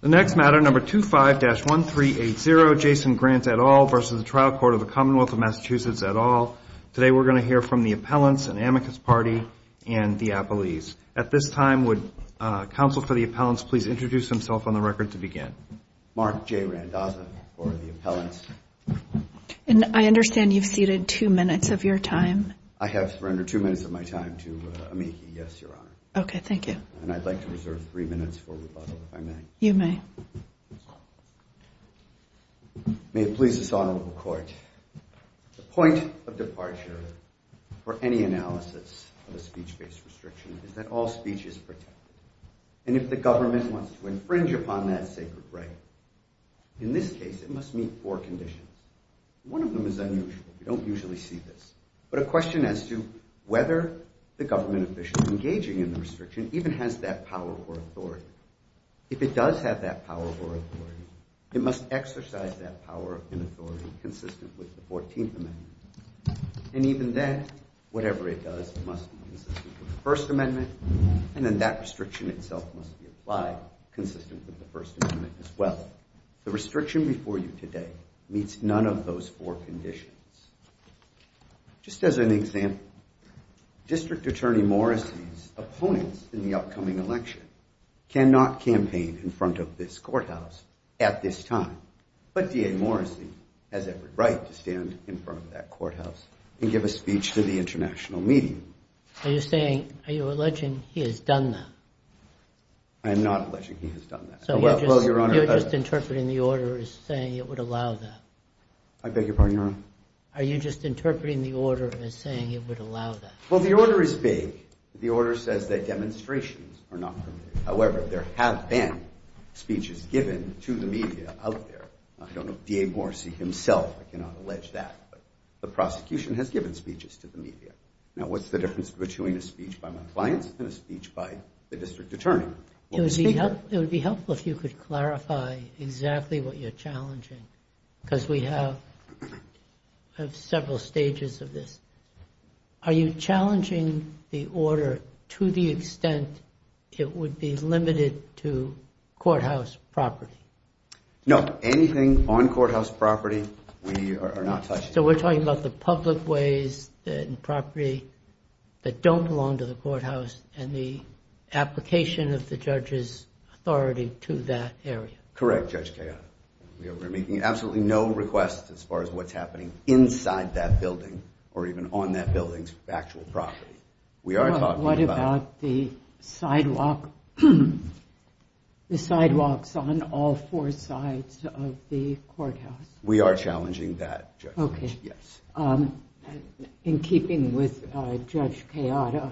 The next matter, number 25-1380, Jason Grant et al. versus the Trial Court of the Commonwealth of Massachusetts et al. Today we're going to hear from the appellants, an amicus party, and the appellees. At this time, would counsel for the appellants please introduce themselves on the record to begin. Mark J. Randazza for the appellants. And I understand you've ceded two minutes of your time. I have surrendered two minutes of my time to amici, yes, Your Honor. Okay, thank you. And I'd like to reserve three minutes for rebuttal, if I may. You may. May it please this Honorable Court, the point of departure for any analysis of a speech-based restriction is that all speech is protected. And if the government wants to infringe upon that sacred right, in this case it must meet four conditions. One of them is unusual. We don't usually see this. But a question as to whether the government official engaging in the restriction even has that power or authority. If it does have that power or authority, it must exercise that power and authority consistent with the 14th Amendment. And even then, whatever it does, it must be consistent with the First Amendment, and then that restriction itself must be applied consistent with the First Amendment as well. The restriction before you today meets none of those four conditions. Just as an example, District Attorney Morrissey's opponents in the upcoming election cannot campaign in front of this courthouse at this time. But DA Morrissey has every right to stand in front of that courthouse and give a speech to the international meeting. Are you saying, are you alleging he has done that? I am not alleging he has done that. So you're just interpreting the order as saying it would allow that? I beg your pardon, Your Honor? Are you just interpreting the order as saying it would allow that? Well, the order is vague. The order says that demonstrations are not permitted. However, there have been speeches given to the media out there. I don't know if DA Morrissey himself cannot allege that, but the prosecution has given speeches to the media. Now, what's the difference between a speech by my clients and a speech by the District Attorney? It would be helpful if you could clarify exactly what you're challenging, because we have several stages of this. Are you challenging the order to the extent it would be limited to courthouse property? No, anything on courthouse property we are not touching. So we're talking about the public ways and property that don't belong to the courthouse and the application of the judge's authority to that area? Correct, Judge Kaye. We are making absolutely no requests as far as what's happening inside that building or even on that building's actual property. What about the sidewalks on all four sides of the courthouse? We are challenging that, Judge. In keeping with Judge Kaye, I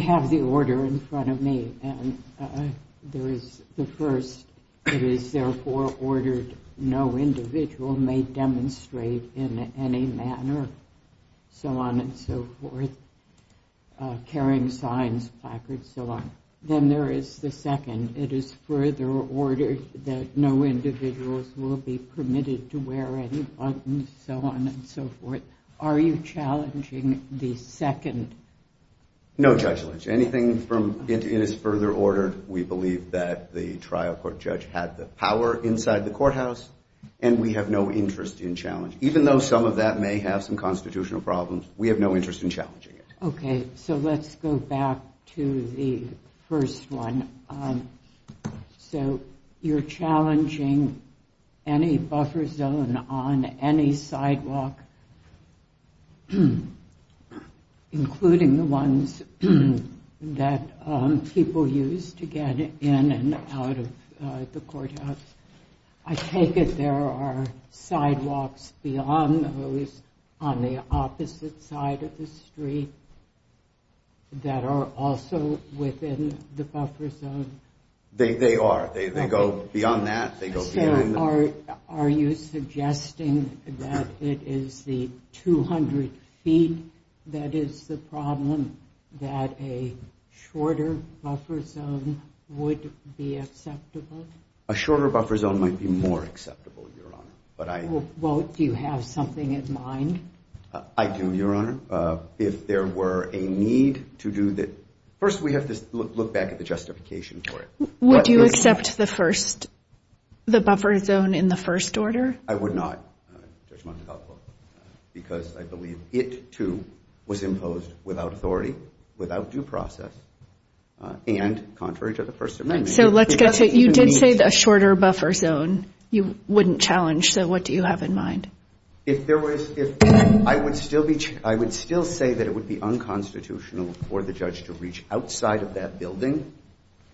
have the order in front of me. There is the first, it is therefore ordered no individual may demonstrate in any manner, so on and so forth, carrying signs, placards, so on. Then there is the second. It is further ordered that no individuals will be permitted to wear any buttons, so on and so forth. Are you challenging the second? No, Judge Lynch. Anything from it is further ordered. We believe that the trial court judge had the power inside the courthouse, and we have no interest in challenging it. Even though some of that may have some constitutional problems, we have no interest in challenging it. Okay, so let's go back to the first one. So you're challenging any buffer zone on any sidewalk, including the ones that people use to get in and out of the courthouse. I take it there are sidewalks beyond those on the opposite side of the street that are also within the buffer zone? They are. They go beyond that. So are you suggesting that it is the 200 feet that is the problem, that a shorter buffer zone would be acceptable? A shorter buffer zone might be more acceptable, Your Honor. Well, do you have something in mind? I do, Your Honor. If there were a need to do that, first we have to look back at the justification for it. Would you accept the buffer zone in the first order? I would not, Judge Montecalvo, because I believe it, too, was imposed without authority, without due process, and contrary to the First Amendment. So you did say a shorter buffer zone you wouldn't challenge, so what do you have in mind? I would still say that it would be unconstitutional for the judge to reach outside of that building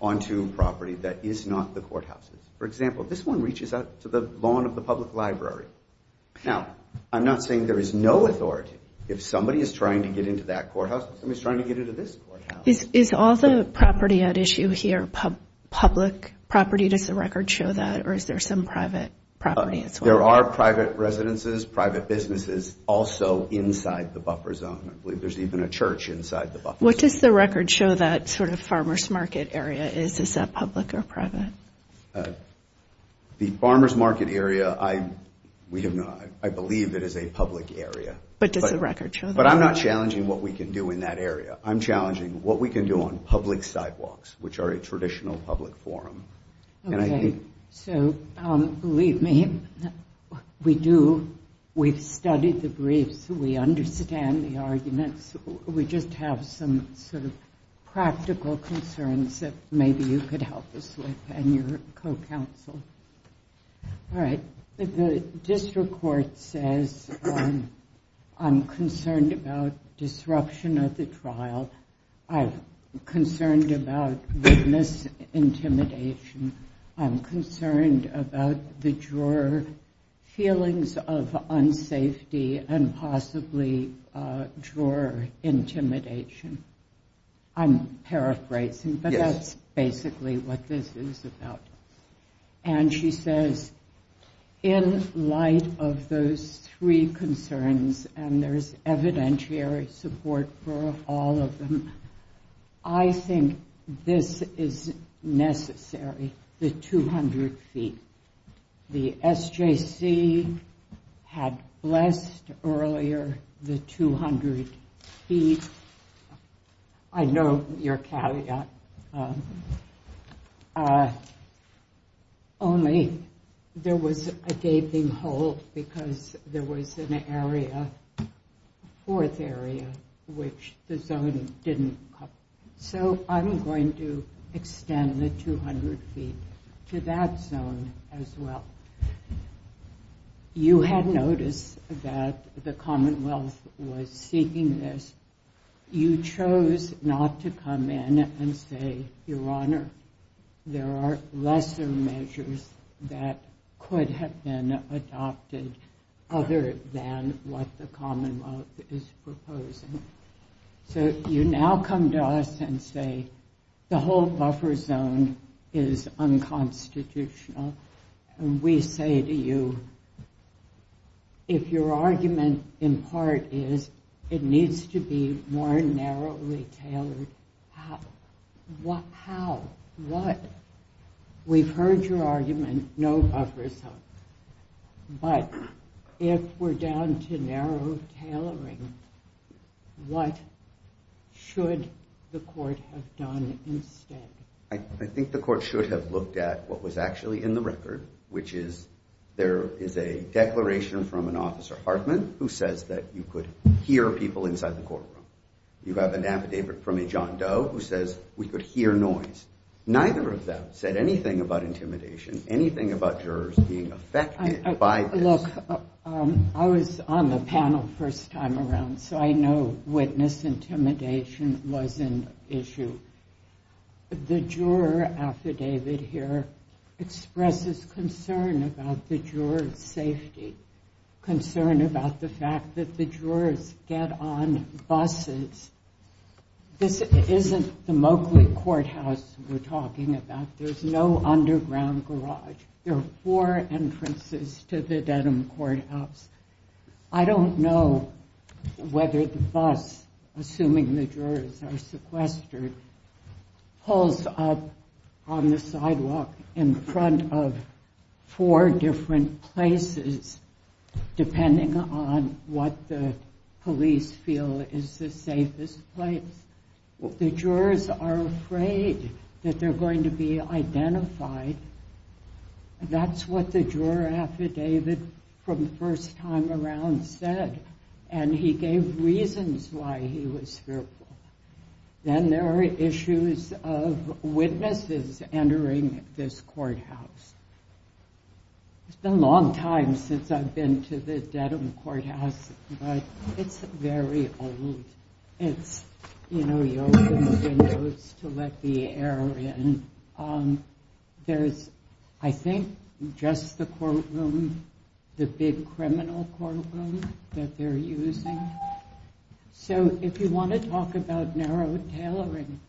onto property that is not the courthouses. For example, this one reaches out to the lawn of the public library. Now, I'm not saying there is no authority. If somebody is trying to get into that courthouse, somebody is trying to get into this courthouse. Is all the property at issue here public property? Does the record show that, or is there some private property as well? There are private residences, private businesses also inside the buffer zone. I believe there's even a church inside the buffer zone. What does the record show that sort of farmer's market area is? Is that public or private? The farmer's market area, I believe it is a public area. But does the record show that? But I'm not challenging what we can do in that area. I'm challenging what we can do on public sidewalks, which are a traditional public forum. Okay. So, believe me, we do, we've studied the briefs. We understand the arguments. We just have some sort of practical concerns that maybe you could help us with and your co-counsel. All right. The district court says I'm concerned about disruption of the trial. I'm concerned about witness intimidation. I'm concerned about the juror feelings of unsafety and possibly juror intimidation. I'm paraphrasing, but that's basically what this is about. And she says in light of those three concerns, and there's evidentiary support for all of them, I think this is necessary, the 200 feet. The SJC had blessed earlier the 200 feet. I know your caveat. Only there was a gaping hole because there was an area, a fourth area, which the zone didn't cover. So I'm going to extend the 200 feet to that zone as well. You had noticed that the Commonwealth was seeking this. You chose not to come in and say, Your Honor, there are lesser measures that could have been adopted other than what the Commonwealth is proposing. So you now come to us and say the whole buffer zone is unconstitutional. We say to you, if your argument in part is it needs to be more narrowly tailored, how? How? What? We've heard your argument, no buffer zone. But if we're down to narrow tailoring, what should the court have done instead? I think the court should have looked at what was actually in the record, which is there is a declaration from an officer Hartman who says that you could hear people inside the courtroom. You have an affidavit from a John Doe who says we could hear noise. Neither of them said anything about intimidation, anything about jurors being affected by this. Look, I was on the panel first time around, so I know witness intimidation was an issue. The juror affidavit here expresses concern about the jurors' safety, concern about the fact that the jurors get on buses. This isn't the Mowgli courthouse we're talking about. There's no underground garage. There are four entrances to the Denham courthouse. I don't know whether the bus, assuming the jurors are sequestered, pulls up on the sidewalk in front of four different places, depending on what the police feel is the safest place. The jurors are afraid that they're going to be identified. That's what the juror affidavit from the first time around said, and he gave reasons why he was fearful. Then there are issues of witnesses entering this courthouse. It's been a long time since I've been to the Denham courthouse, but it's very old. It's, you know, you open the windows to let the air in. There's, I think, just the courtroom, the big criminal courtroom that they're using. So if you want to talk about narrow tailoring,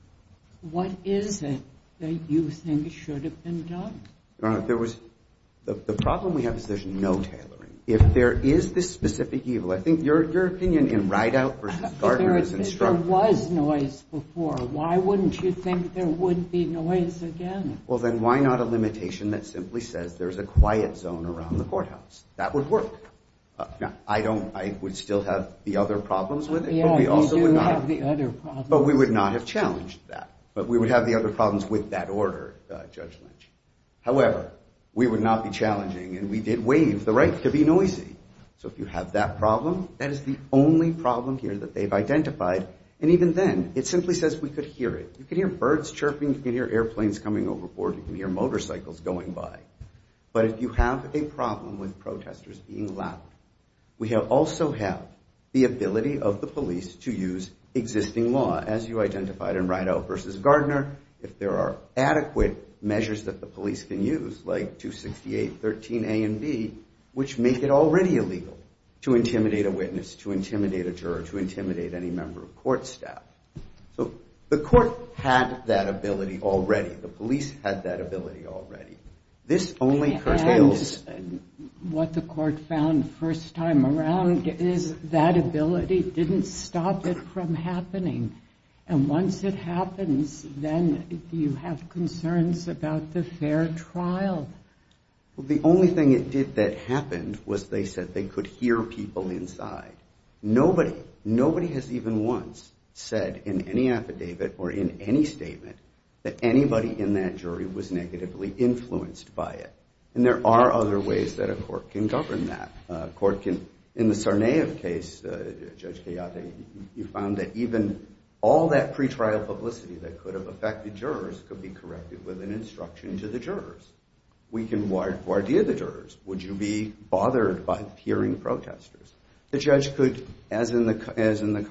what is it that you think should have been done? The problem we have is there's no tailoring. If there is this specific evil, I think your opinion in Rideout versus Gardner is instructive. If there was noise before, why wouldn't you think there would be noise again? Well, then why not a limitation that simply says there's a quiet zone around the courthouse? That would work. Now, I don't, I would still have the other problems with it, but we also would not. You do have the other problems. But we would not have challenged that. But we would have the other problems with that order, Judge Lynch. However, we would not be challenging, and we did waive the right to be noisy. So if you have that problem, that is the only problem here that they've identified. And even then, it simply says we could hear it. You can hear birds chirping. You can hear airplanes coming overboard. You can hear motorcycles going by. But if you have a problem with protesters being loud, we also have the ability of the police to use existing law, as you identified in Rideout versus Gardner. If there are adequate measures that the police can use, like 268.13a and b, which make it already illegal to intimidate a witness, to intimidate a juror, to intimidate any member of court staff. So the court had that ability already. The police had that ability already. This only curtails. And what the court found first time around is that ability didn't stop it from happening. And once it happens, then you have concerns about the fair trial. Well, the only thing it did that happened was they said they could hear people inside. Nobody, nobody has even once said in any affidavit or in any statement that anybody in that jury was negatively influenced by it. And there are other ways that a court can govern that. In the Tsarnaev case, Judge Kayate, you found that even all that pretrial publicity that could have affected jurors could be corrected with an instruction to the jurors. We can guard the jurors. Would you be bothered by hearing protesters? The judge could, as in the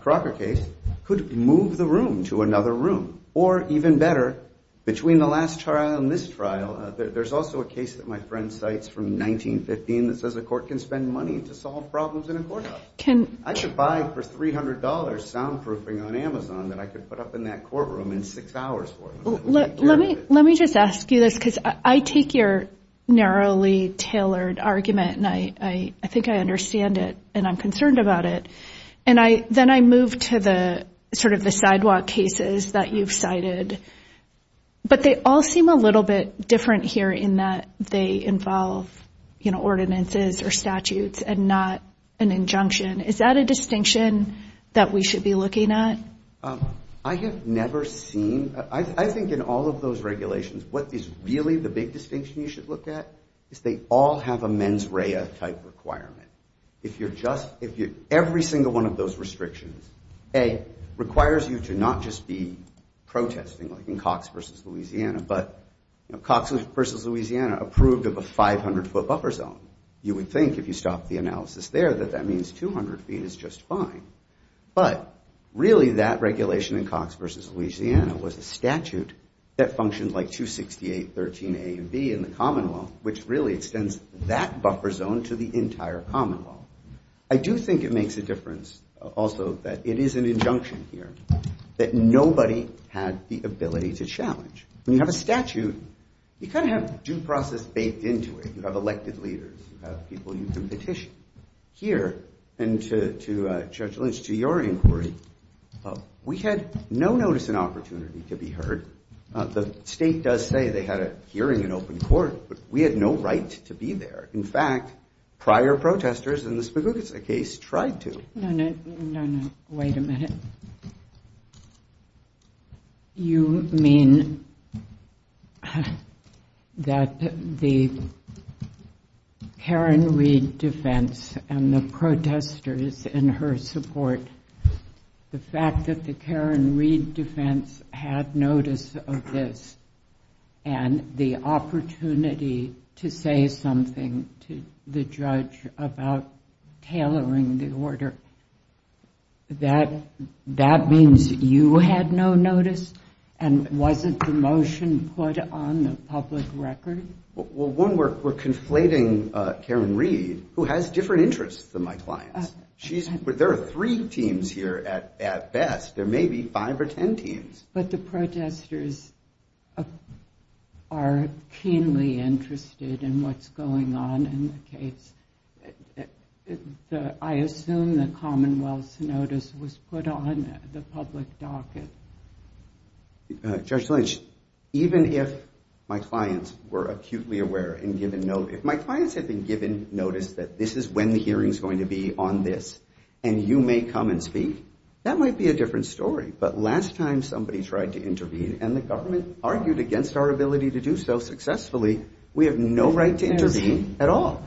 Crocker case, could move the room to another room. Or even better, between the last trial and this trial, there's also a case that my friend cites from 1915 that says a court can spend money to solve problems in a courthouse. I could buy for $300 soundproofing on Amazon that I could put up in that courtroom in six hours for them. Let me just ask you this, because I take your narrowly tailored argument, and I think I understand it and I'm concerned about it. And then I move to the sort of the sidewalk cases that you've cited. But they all seem a little bit different here in that they involve, you know, ordinances or statutes and not an injunction. Is that a distinction that we should be looking at? I have never seen. I think in all of those regulations, what is really the big distinction you should look at is they all have a mens rea type requirement. Every single one of those restrictions, A, requires you to not just be protesting like in Cox v. Louisiana, but Cox v. Louisiana approved of a 500-foot buffer zone. You would think if you stopped the analysis there that that means 200 feet is just fine. But really that regulation in Cox v. Louisiana was a statute that functioned like 268, 13A and B in the Commonwealth, which really extends that buffer zone to the entire Commonwealth. I do think it makes a difference also that it is an injunction here that nobody had the ability to challenge. When you have a statute, you kind of have due process baked into it. You have elected leaders, you have people you can petition. Here, and to Judge Lynch, to your inquiry, we had no notice and opportunity to be heard. The state does say they had a hearing in open court, but we had no right to be there. In fact, prior protesters in the Spigugas case tried to. No, no, wait a minute. You mean that the Karen Reid defense and the protesters in her support, the fact that the Karen Reid defense had notice of this and the opportunity to say something to the judge about tailoring the order, that means you had no notice and wasn't the motion put on the public record? Well, one, we're conflating Karen Reid, who has different interests than my clients. There are three teams here at best. There may be five or ten teams. But the protesters are keenly interested in what's going on in the case. I assume the Commonwealth's notice was put on the public docket. Judge Lynch, even if my clients were acutely aware and given notice, if my clients had been given notice that this is when the hearing's going to be on this and you may come and speak, that might be a different story. But last time somebody tried to intervene and the government argued against our ability to do so successfully, we have no right to intervene at all.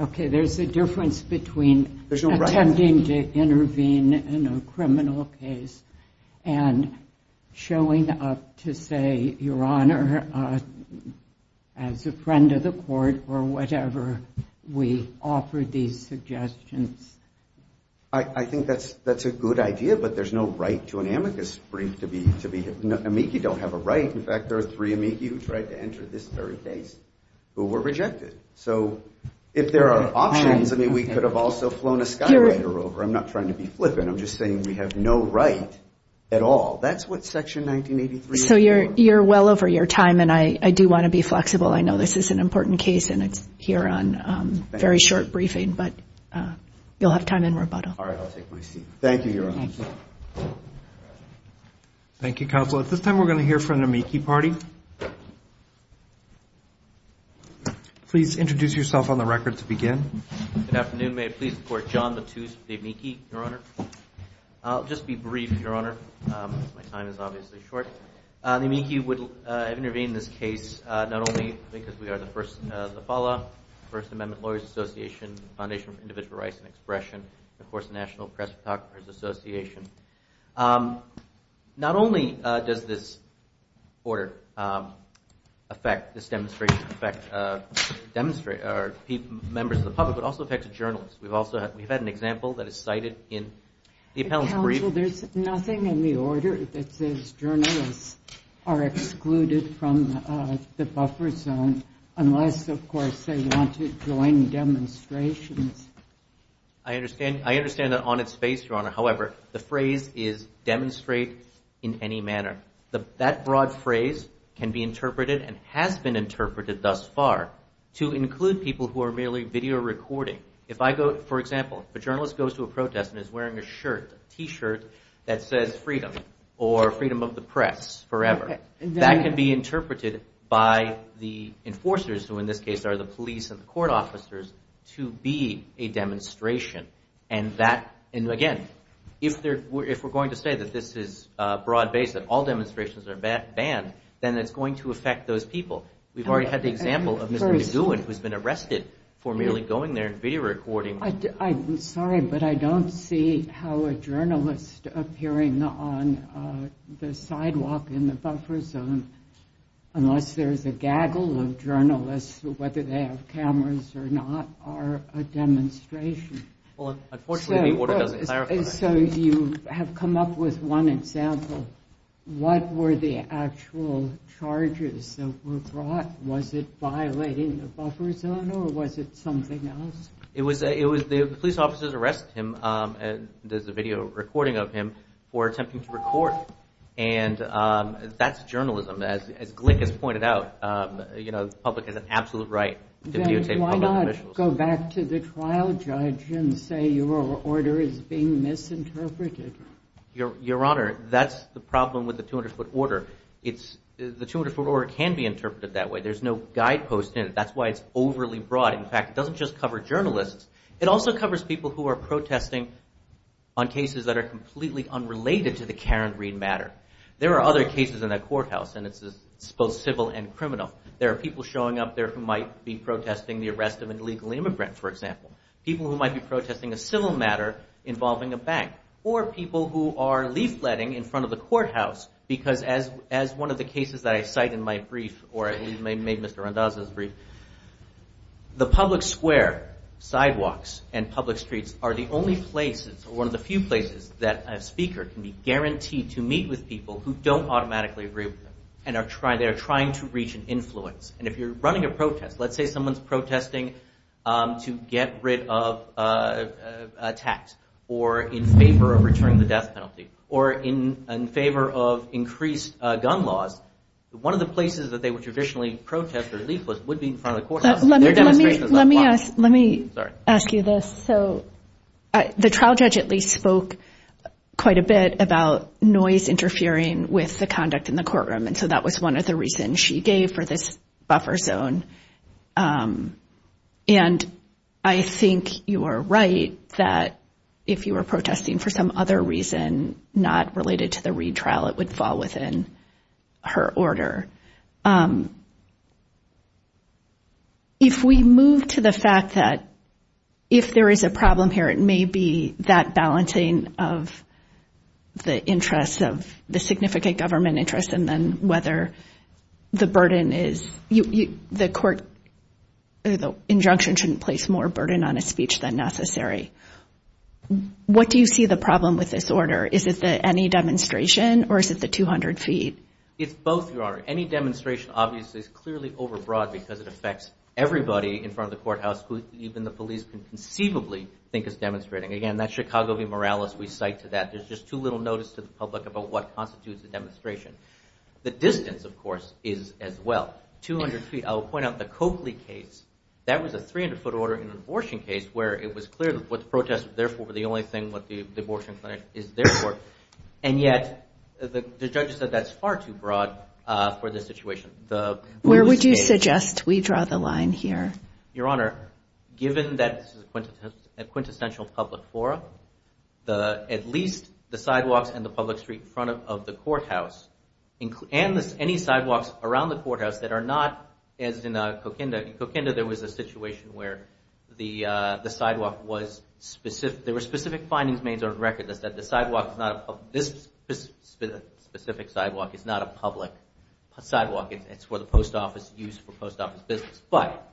Okay, there's a difference between attending to intervene in a criminal case and showing up to say, Your Honor, as a friend of the court or whatever, we offer these suggestions. I think that's a good idea, but there's no right to an amicus brief. Amici don't have a right. In fact, there are three Amici who tried to enter this very case who were rejected. So if there are options, I mean, we could have also flown a skywriter over. I'm not trying to be flippant. I'm just saying we have no right at all. That's what Section 1983 is about. So you're well over your time, and I do want to be flexible. I know this is an important case, and it's here on very short briefing. But you'll have time in rebuttal. All right, I'll take my seat. Thank you, Your Honor. Thank you, Counsel. At this time, we're going to hear from the Amici party. Please introduce yourself on the record to begin. Good afternoon. May it please the Court. John Latouche, the Amici, Your Honor. I'll just be brief, Your Honor. My time is obviously short. The Amici have intervened in this case not only because we are the first First Amendment Lawyers Association, Foundation for Individual Rights and Expression, and of course the National Press Photographers Association. Not only does this order affect this demonstration, affect members of the public, but also affects journalists. We've had an example that is cited in the appellant's brief. Counsel, there's nothing in the order that says journalists are excluded from the buffer zone unless, of course, they want to join demonstrations. I understand that on its face, Your Honor. However, the phrase is demonstrate in any manner. That broad phrase can be interpreted and has been interpreted thus far to include people who are merely video recording. If I go, for example, a journalist goes to a protest and is wearing a shirt, a T-shirt that says freedom or freedom of the press. That can be interpreted by the enforcers, who in this case are the police and the court officers, to be a demonstration. Again, if we're going to say that this is broad-based, that all demonstrations are banned, then it's going to affect those people. We've already had the example of Mr. McGowan, who's been arrested for merely going there and video recording. I'm sorry, but I don't see how a journalist appearing on the sidewalk in the buffer zone unless there's a gaggle of journalists, whether they have cameras or not, are a demonstration. Unfortunately, the order doesn't clarify that. You have come up with one example. What were the actual charges that were brought? Was it violating the buffer zone or was it something else? The police officers arrest him, there's a video recording of him, for attempting to record. That's journalism. As Glick has pointed out, the public has an absolute right to videotape public officials. Then why not go back to the trial judge and say your order is being misinterpreted? Your Honor, that's the problem with the 200-foot order. The 200-foot order can be interpreted that way. There's no guidepost in it. That's why it's overly broad. In fact, it doesn't just cover journalists. It also covers people who are protesting on cases that are completely unrelated to the Karen Reid matter. There are other cases in that courthouse, and it's both civil and criminal. There are people showing up there who might be protesting the arrest of an illegal immigrant, for example. People who might be protesting a civil matter involving a bank, or people who are leafletting in front of the courthouse. Because as one of the cases that I cite in my brief, or at least made Mr. Randazzo's brief, the public square, sidewalks, and public streets are the only places, or one of the few places, that a speaker can be guaranteed to meet with people who don't automatically agree with them. They are trying to reach an influence. And if you're running a protest, let's say someone's protesting to get rid of a tax, or in favor of returning the death penalty, or in favor of increased gun laws, one of the places that they would traditionally protest or leaflet would be in front of the courthouse. Let me ask you this. The trial judge at least spoke quite a bit about noise interfering with the conduct in the courtroom, and so that was one of the reasons she gave for this buffer zone. And I think you are right that if you were protesting for some other reason not related to the Reid trial, it would fall within her order. If we move to the fact that if there is a problem here, it may be that balancing of the interests, of the significant government interest, and then whether the burden is, the court, the injunction shouldn't place more burden on a speech than necessary. What do you see the problem with this order? Is it the any demonstration or is it the 200 feet? It's both, Your Honor. Any demonstration obviously is clearly overbroad because it affects everybody in front of the courthouse who even the police can conceivably think is demonstrating. Again, that's Chicago v. Morales, we cite to that. There's just too little notice to the public about what constitutes a demonstration. The distance, of course, is as well. 200 feet. I will point out the Coakley case, that was a 300-foot order in an abortion case where it was clear that what the protest was there for was the only thing the abortion clinic is there for, and yet the judge said that's far too broad for this situation. Where would you suggest we draw the line here? Your Honor, given that this is a quintessential public forum, at least the sidewalks and the public street in front of the courthouse, and any sidewalks around the courthouse that are not, as in Coquinda. In Coquinda, there was a situation where the sidewalk was specific. There were specific findings made on record that said this specific sidewalk is not a public sidewalk. It's for the post office use for post office business, but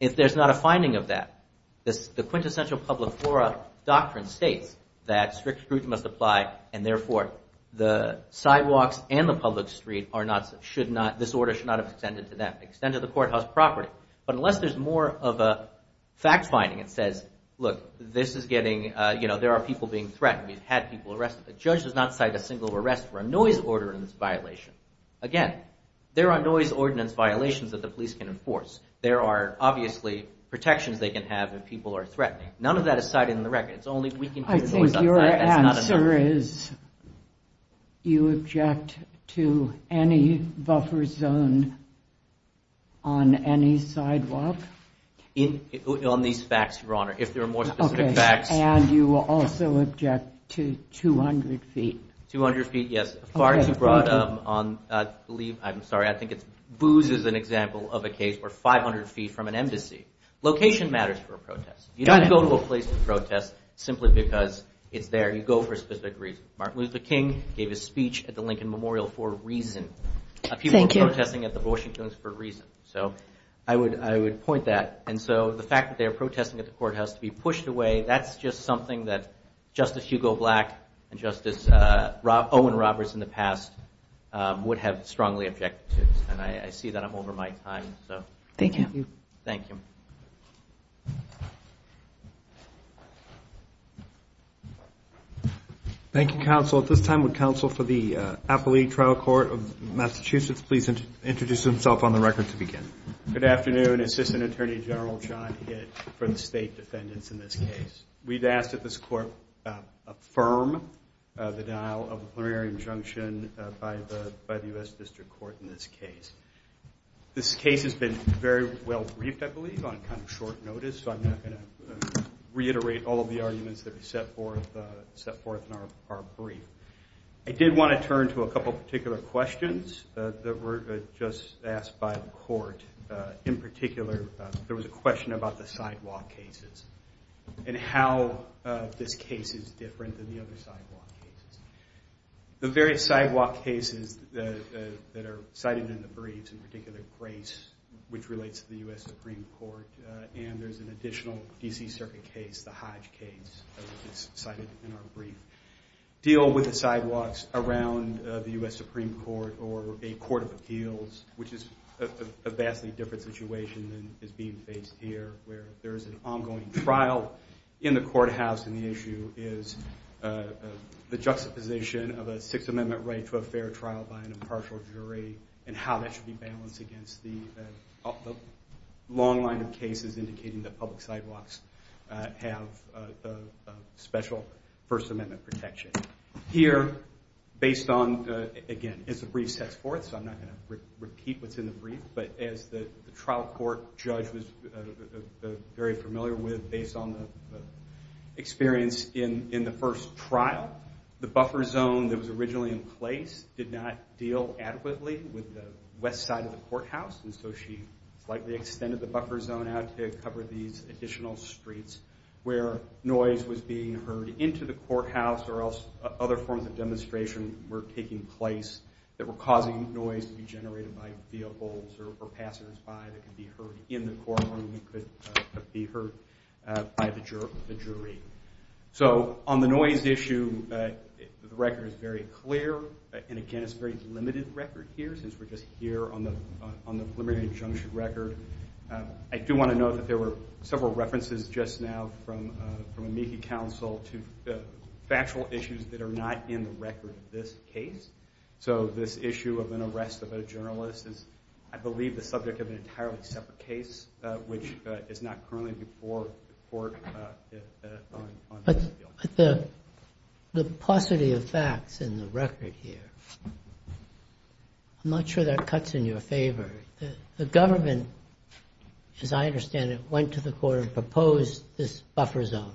if there's not a finding of that, the quintessential public forum doctrine states that strict scrutiny must apply, and therefore, the sidewalks and the public street should not, this order should not have extended to them, extended to the courthouse property. But unless there's more of a fact finding that says, look, this is getting, you know, there are people being threatened. We've had people arrested. The judge does not cite a single arrest for a noise ordinance violation. Again, there are noise ordinance violations that the police can enforce. There are obviously protections they can have if people are threatening. None of that is cited in the record. I think your answer is you object to any buffer zone on any sidewalk? On these facts, Your Honor, if there are more specific facts. And you will also object to 200 feet? 200 feet, yes. I'm sorry, I think Booz is an example of a case where 500 feet from an embassy. Location matters for a protest. You don't go to a place to protest simply because it's there. You go for a specific reason. Martin Luther King gave a speech at the Lincoln Memorial for a reason. People protesting at the Washington's for a reason. So I would I would point that. And so the fact that they are protesting at the courthouse to be pushed away, that's just something that Justice Hugo Black and Justice Owen Roberts in the past would have strongly objected to. And I see that I'm over my time. Thank you. Thank you. Thank you. Thank you, counsel. At this time, would counsel for the Appellee Trial Court of Massachusetts please introduce himself on the record to begin? Good afternoon. Assistant Attorney General John Hitt for the state defendants in this case. We've asked that this court affirm the dial of the plenary injunction by the U.S. District Court in this case. This case has been very well briefed, I believe, on kind of short notice. So I'm not going to reiterate all of the arguments that we set forth set forth in our brief. I did want to turn to a couple of particular questions that were just asked by the court. In particular, there was a question about the sidewalk cases and how this case is different than the other sidewalk cases. The various sidewalk cases that are cited in the briefs, in particular Grace, which relates to the U.S. Supreme Court, and there's an additional D.C. Circuit case, the Hodge case that's cited in our brief, deal with the sidewalks around the U.S. Supreme Court or a court of appeals, which is a vastly different situation than is being faced here, where there is an ongoing trial in the courthouse. And the issue is the juxtaposition of a Sixth Amendment right to a fair trial by an impartial jury and how that should be balanced against the long line of cases indicating that public sidewalks have special First Amendment protection. Here, based on, again, as the brief sets forth, so I'm not going to repeat what's in the brief, but as the trial court judge was very familiar with based on the experience in the first trial, the buffer zone that was originally in place did not deal adequately with the west side of the courthouse, and so she slightly extended the buffer zone out to cover these additional streets where noise was being heard into the courthouse or else other forms of demonstration were taking place that were causing noise to be generated by vehicles or passersby that could be heard in the courtroom or could be heard by the jury. So on the noise issue, the record is very clear, and again, it's a very limited record here since we're just here on the preliminary injunction record. I do want to note that there were several references just now from amici counsel to factual issues that are not in the record of this case. So this issue of an arrest of a journalist is, I believe, the subject of an entirely separate case, which is not currently before the court. But the paucity of facts in the record here, I'm not sure that cuts in your favor. The government, as I understand it, went to the court and proposed this buffer zone,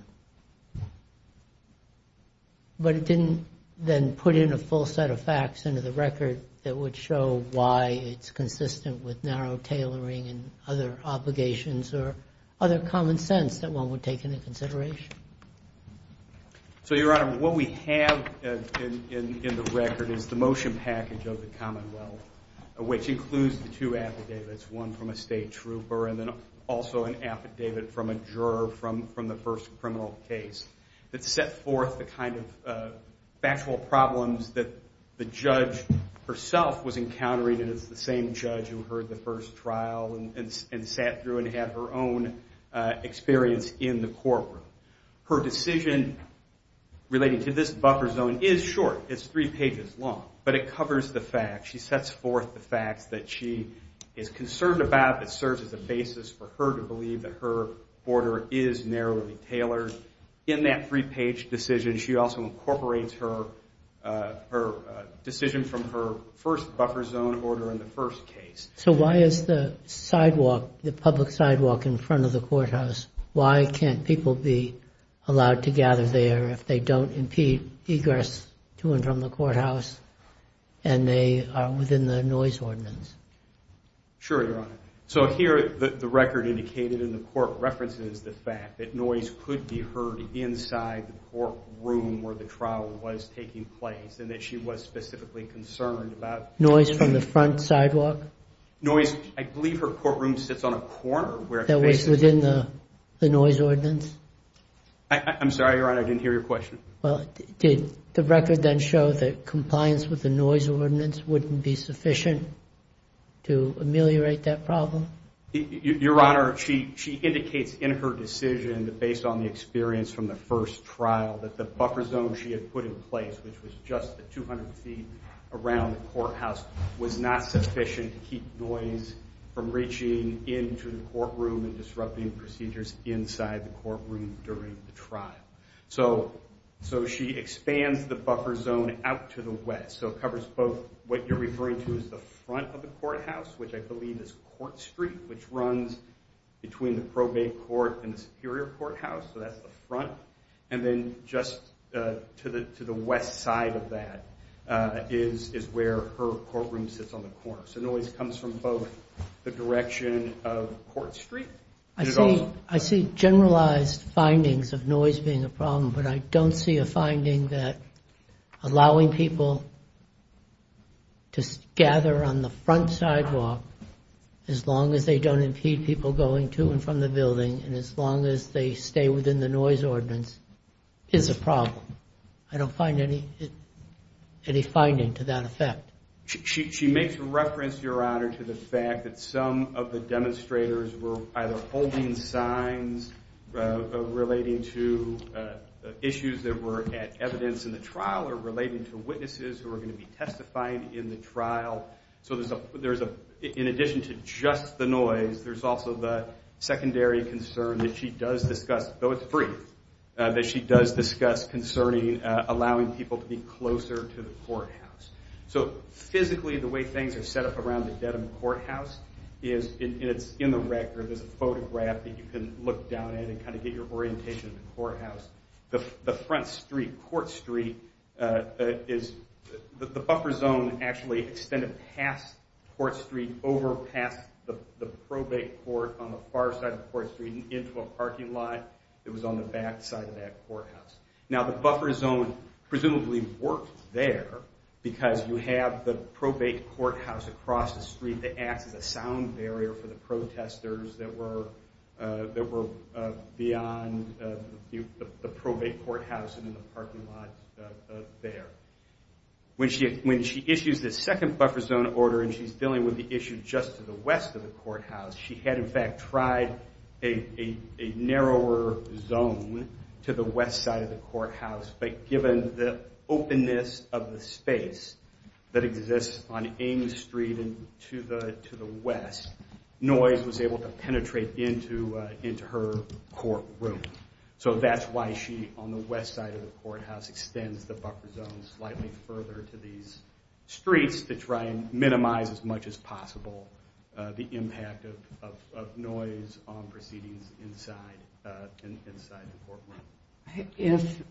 but it didn't then put in a full set of facts into the record that would show why it's consistent with narrow tailoring and other obligations or other common sense that one would take into consideration. So, Your Honor, what we have in the record is the motion package of the Commonwealth, which includes the two affidavits, one from a state trooper and then also an affidavit from a juror from the first criminal case that set forth the kind of factual problems that the judge herself was encountering as the same judge who heard the first trial and sat through and had her own experience in the courtroom. Her decision relating to this buffer zone is short. It's three pages long. But it covers the facts. She sets forth the facts that she is concerned about. It serves as a basis for her to believe that her order is narrowly tailored. In that three-page decision, she also incorporates her decision from her first buffer zone order in the first case. So why is the sidewalk, the public sidewalk in front of the courthouse, why can't people be allowed to gather there if they don't impede egress to and from the courthouse and they are within the noise ordinance? Sure, Your Honor. So here, the record indicated in the court references the fact that noise could be heard inside the courtroom where the trial was taking place and that she was specifically concerned about... Noise from the front sidewalk? Noise, I believe her courtroom sits on a corner where... Within the noise ordinance? I'm sorry, Your Honor. I didn't hear your question. Did the record then show that compliance with the noise ordinance wouldn't be sufficient to ameliorate that problem? Your Honor, she indicates in her decision that based on the experience from the first trial, that the buffer zone she had put in place, which was just 200 feet around the courthouse, was not sufficient to keep noise from reaching into the courtroom and disrupting procedures inside the courtroom during the trial. So she expands the buffer zone out to the west. So it covers both what you're referring to as the front of the courthouse, which I believe is Court Street, which runs between the probate court and the superior courthouse, so that's the front. And then just to the west side of that is where her courtroom sits on the corner. So noise comes from both the direction of Court Street... I see generalized findings of noise being a problem, but I don't see a finding that allowing people to gather on the front sidewalk as long as they don't impede people going to and from the building and as long as they stay within the noise ordinance is a problem. I don't find any finding to that effect. She makes reference, Your Honor, to the fact that some of the demonstrators were either holding signs relating to issues that were at evidence in the trial or relating to witnesses who were going to be testifying in the trial. So in addition to just the noise, there's also the secondary concern that she does discuss, though it's brief, that she does discuss concerning allowing people to be closer to the courthouse. So physically, the way things are set up around the Dedham Courthouse, and it's in the record, there's a photograph that you can look down at and kind of get your orientation of the courthouse. The front street, Court Street, the buffer zone actually extended past Court Street over past the probate court on the far side of Court Street and into a parking lot that was on the back side of that courthouse. Now the buffer zone presumably worked there because you have the probate courthouse across the street that acts as a sound barrier for the protesters that were beyond the probate courthouse and in the parking lot there. When she issues this second buffer zone order, and she's dealing with the issue just to the west of the courthouse, she had in fact tried a narrower zone to the west side of the courthouse, but given the openness of the space that exists on Ames Street and to the west, noise was able to penetrate into her courtroom. So that's why she, on the west side of the courthouse, extends the buffer zone slightly further to these streets to try and minimize as much as possible the impact of noise on proceedings inside the courtroom. If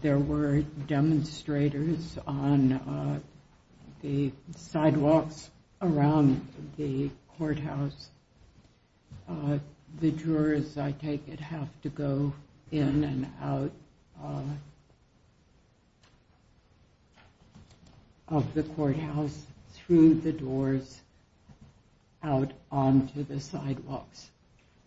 there were demonstrators on the sidewalks around the courthouse, the jurors, I take it, have to go in and out of the courthouse through the doors out onto the sidewalks.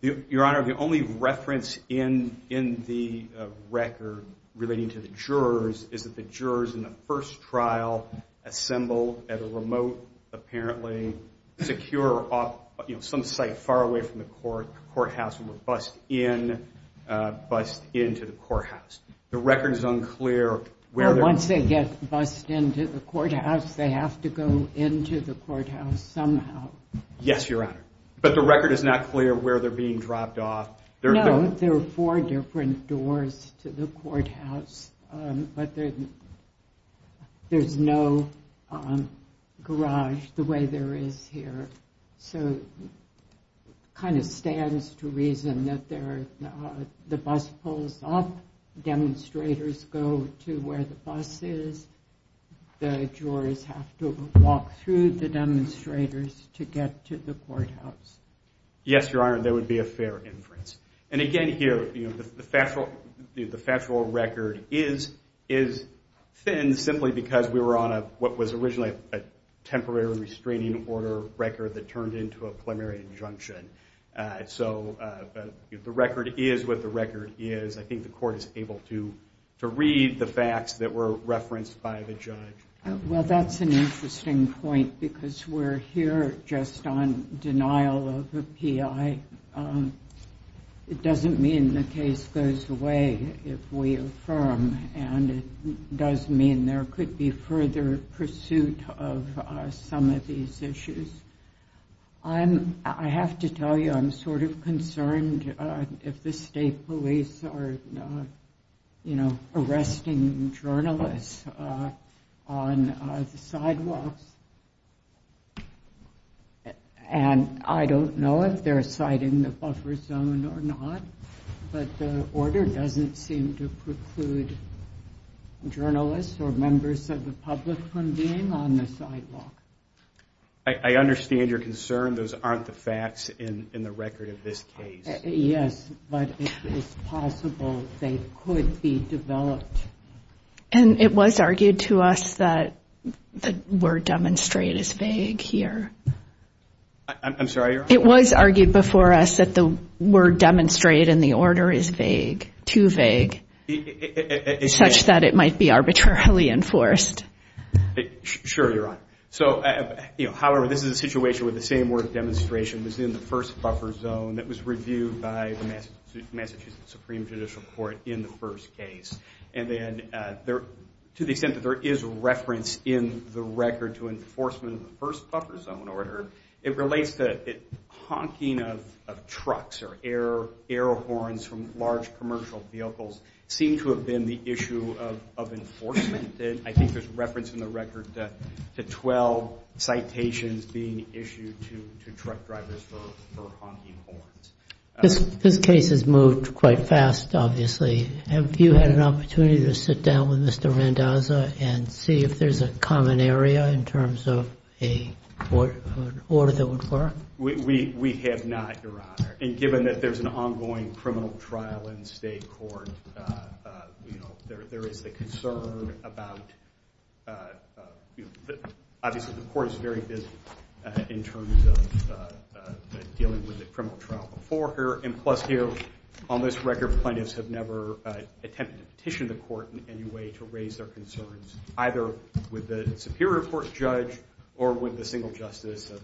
Your Honor, the only reference in the record relating to the jurors is that the jurors in the first trial assembled at a remote, apparently secure, some site far away from the courthouse and were bused into the courthouse. The record is unclear. Once they get bused into the courthouse, they have to go into the courthouse somehow. Yes, Your Honor. But the record is not clear where they're being dropped off. No, there are four different doors to the courthouse, but there's no garage the way there is here. So it kind of stands to reason that the bus pulls up, demonstrators go to where the bus is, and the jurors have to walk through the demonstrators to get to the courthouse. Yes, Your Honor, there would be a fair inference. And again here, the factual record is thin simply because we were on what was originally a temporary restraining order record that turned into a preliminary injunction. So the record is what the record is. I think the court is able to read the facts that were referenced by the judge. Well, that's an interesting point because we're here just on denial of a PI. It doesn't mean the case goes away if we affirm, and it does mean there could be further pursuit of some of these issues. I have to tell you I'm sort of concerned if the state police are, you know, arresting journalists on the sidewalks. And I don't know if they're citing the buffer zone or not, but the order doesn't seem to preclude journalists or members of the public from being on the sidewalk. I understand your concern. Those aren't the facts in the record of this case. Yes, but it's possible they could be developed. And it was argued to us that the word demonstrate is vague here. I'm sorry, Your Honor? It was argued before us that the word demonstrate in the order is vague, too vague, such that it might be arbitrarily enforced. Sure, Your Honor. However, this is a situation where the same word demonstration was in the first buffer zone that was reviewed by the Massachusetts Supreme Judicial Court in the first case. And to the extent that there is reference in the record to enforcement of the first buffer zone order, it relates to honking of trucks or air horns from large commercial vehicles seem to have been the issue of enforcement. And I think there's reference in the record to 12 citations being issued to truck drivers for honking horns. This case has moved quite fast, obviously. Have you had an opportunity to sit down with Mr. Randazza and see if there's a common area in terms of an order that would work? We have not, Your Honor. And given that there's an ongoing criminal trial in state court, there is a concern about, obviously, the court is very busy in terms of dealing with the criminal trial before here. And plus here, on this record, plaintiffs have never attempted to petition the court in any way to raise their concerns either with the Superior Court judge or with the single justice of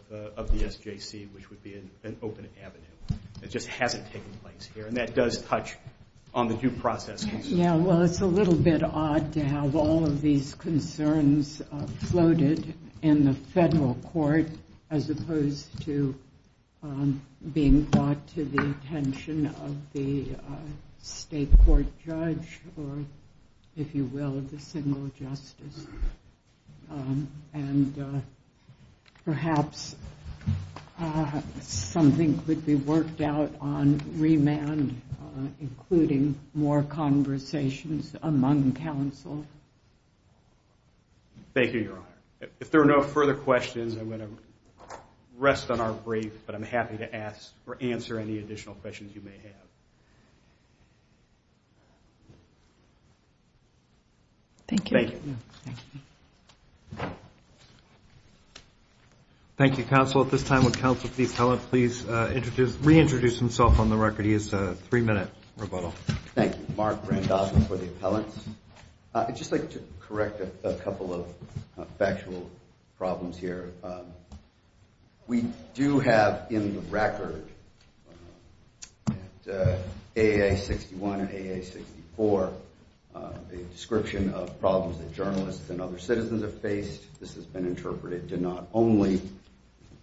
the SJC, which would be an open avenue. It just hasn't taken place here. And that does touch on the due process case. Yeah, well, it's a little bit odd to have all of these concerns floated in the federal court as opposed to being brought to the attention of the state court judge or, if you will, the single justice. And perhaps something could be worked out on remand, including more conversations among counsel. Thank you, Your Honor. If there are no further questions, I'm going to rest on our brief, but I'm happy to ask or answer any additional questions you may have. Thank you. Thank you. Thank you, counsel. At this time, would counsel for the appellant please reintroduce himself on the record? He has a three-minute rebuttal. Thank you. Mark Randolph for the appellant. I'd just like to correct a couple of factual problems here. We do have in the record at AA61 and AA64 a description of problems that journalists and other citizens have faced. This has been interpreted to not only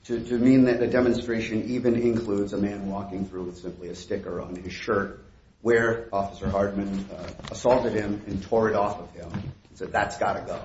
to mean that the demonstration even includes a man walking through with simply a sticker on his shirt where Officer Hardman assaulted him and tore it off of him and said, that's got to go.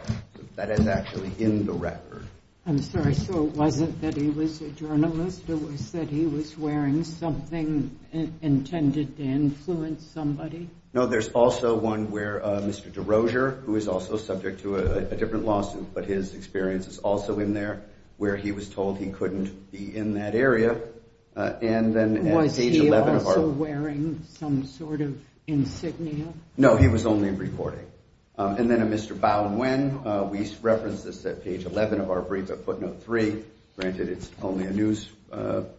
That is actually in the record. I'm sorry. So it wasn't that he was a journalist. It was that he was wearing something intended to influence somebody? No, there's also one where Mr. DeRosier, who is also subject to a different lawsuit, but his experience is also in there, where he was told he couldn't be in that area. Was he also wearing some sort of insignia? No, he was only recording. And then a Mr. Bowden Winn. We referenced this at page 11 of our brief at footnote three. Granted, it's only a news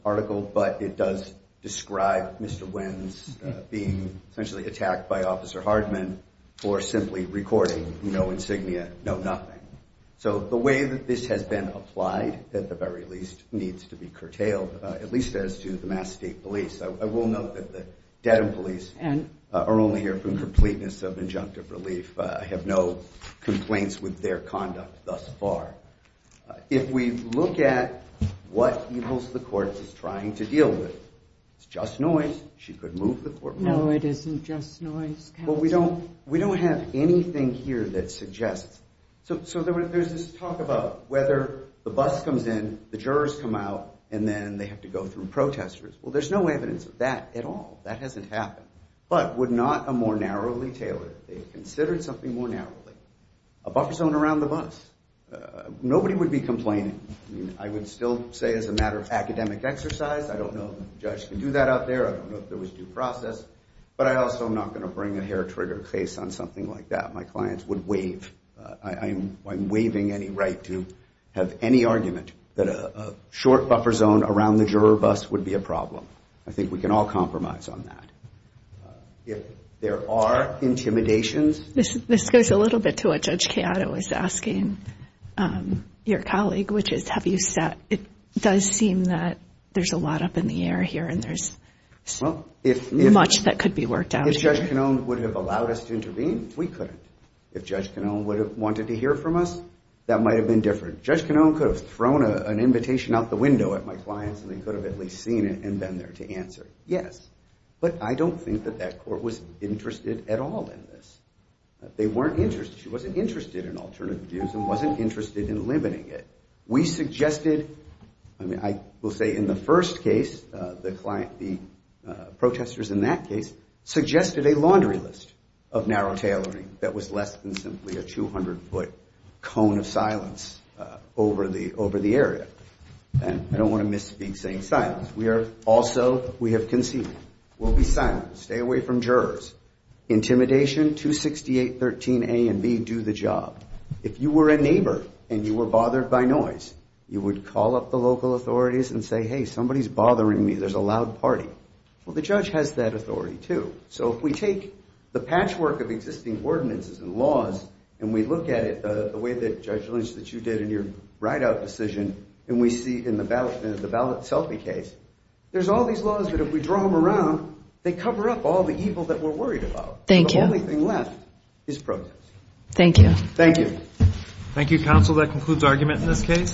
article, but it does describe Mr. Winn's being essentially attacked by Officer Hardman or simply recording no insignia, no nothing. So the way that this has been applied, at the very least, needs to be curtailed, at least as to the Mass State Police. I will note that the Dedham Police are only here for completeness of injunctive relief. I have no complaints with their conduct thus far. If we look at what he holds the court is trying to deal with, it's just noise. She could move the court. No, it isn't just noise, counsel. We don't have anything here that suggests. So there's this talk about whether the bus comes in, the jurors come out, and then they have to go through protesters. Well, there's no evidence of that at all. That hasn't happened. But would not a more narrowly tailored, if they had considered something more narrowly, a buffer zone around the bus? Nobody would be complaining. I mean, I would still say as a matter of academic exercise, I don't know if the judge can do that out there. I don't know if there was due process. But I also am not going to bring a hair-trigger case on something like that. My clients would waive. I'm waiving any right to have any argument that a short buffer zone around the juror bus would be a problem. I think we can all compromise on that. If there are intimidations. This goes a little bit to what Judge Chiato was asking your colleague, which is have you sat. It does seem that there's a lot up in the air here and there's much that could be worked out. If Judge Canone would have allowed us to intervene, we couldn't. If Judge Canone would have wanted to hear from us, that might have been different. Judge Canone could have thrown an invitation out the window at my clients, and they could have at least seen it and been there to answer. Yes. But I don't think that that court was interested at all in this. They weren't interested. She wasn't interested in alternative views and wasn't interested in limiting it. We suggested, I mean, I will say in the first case, the client, the protesters in that case, suggested a laundry list of narrow tailoring that was less than simply a 200-foot cone of silence over the area. And I don't want to misspeak saying silence. We are also, we have conceded. We'll be silent. Stay away from jurors. Intimidation, 268.13a and b, do the job. If you were a neighbor and you were bothered by noise, you would call up the local authorities and say, hey, somebody's bothering me. There's a loud party. Well, the judge has that authority, too. So if we take the patchwork of existing ordinances and laws and we look at it the way that Judge Lynch, that you did in your write-out decision, and we see in the ballot selfie case, there's all these laws that if we draw them around, they cover up all the evil that we're worried about. Thank you. The only thing left is protest. Thank you. Thank you. Thank you, counsel. That concludes argument in this case.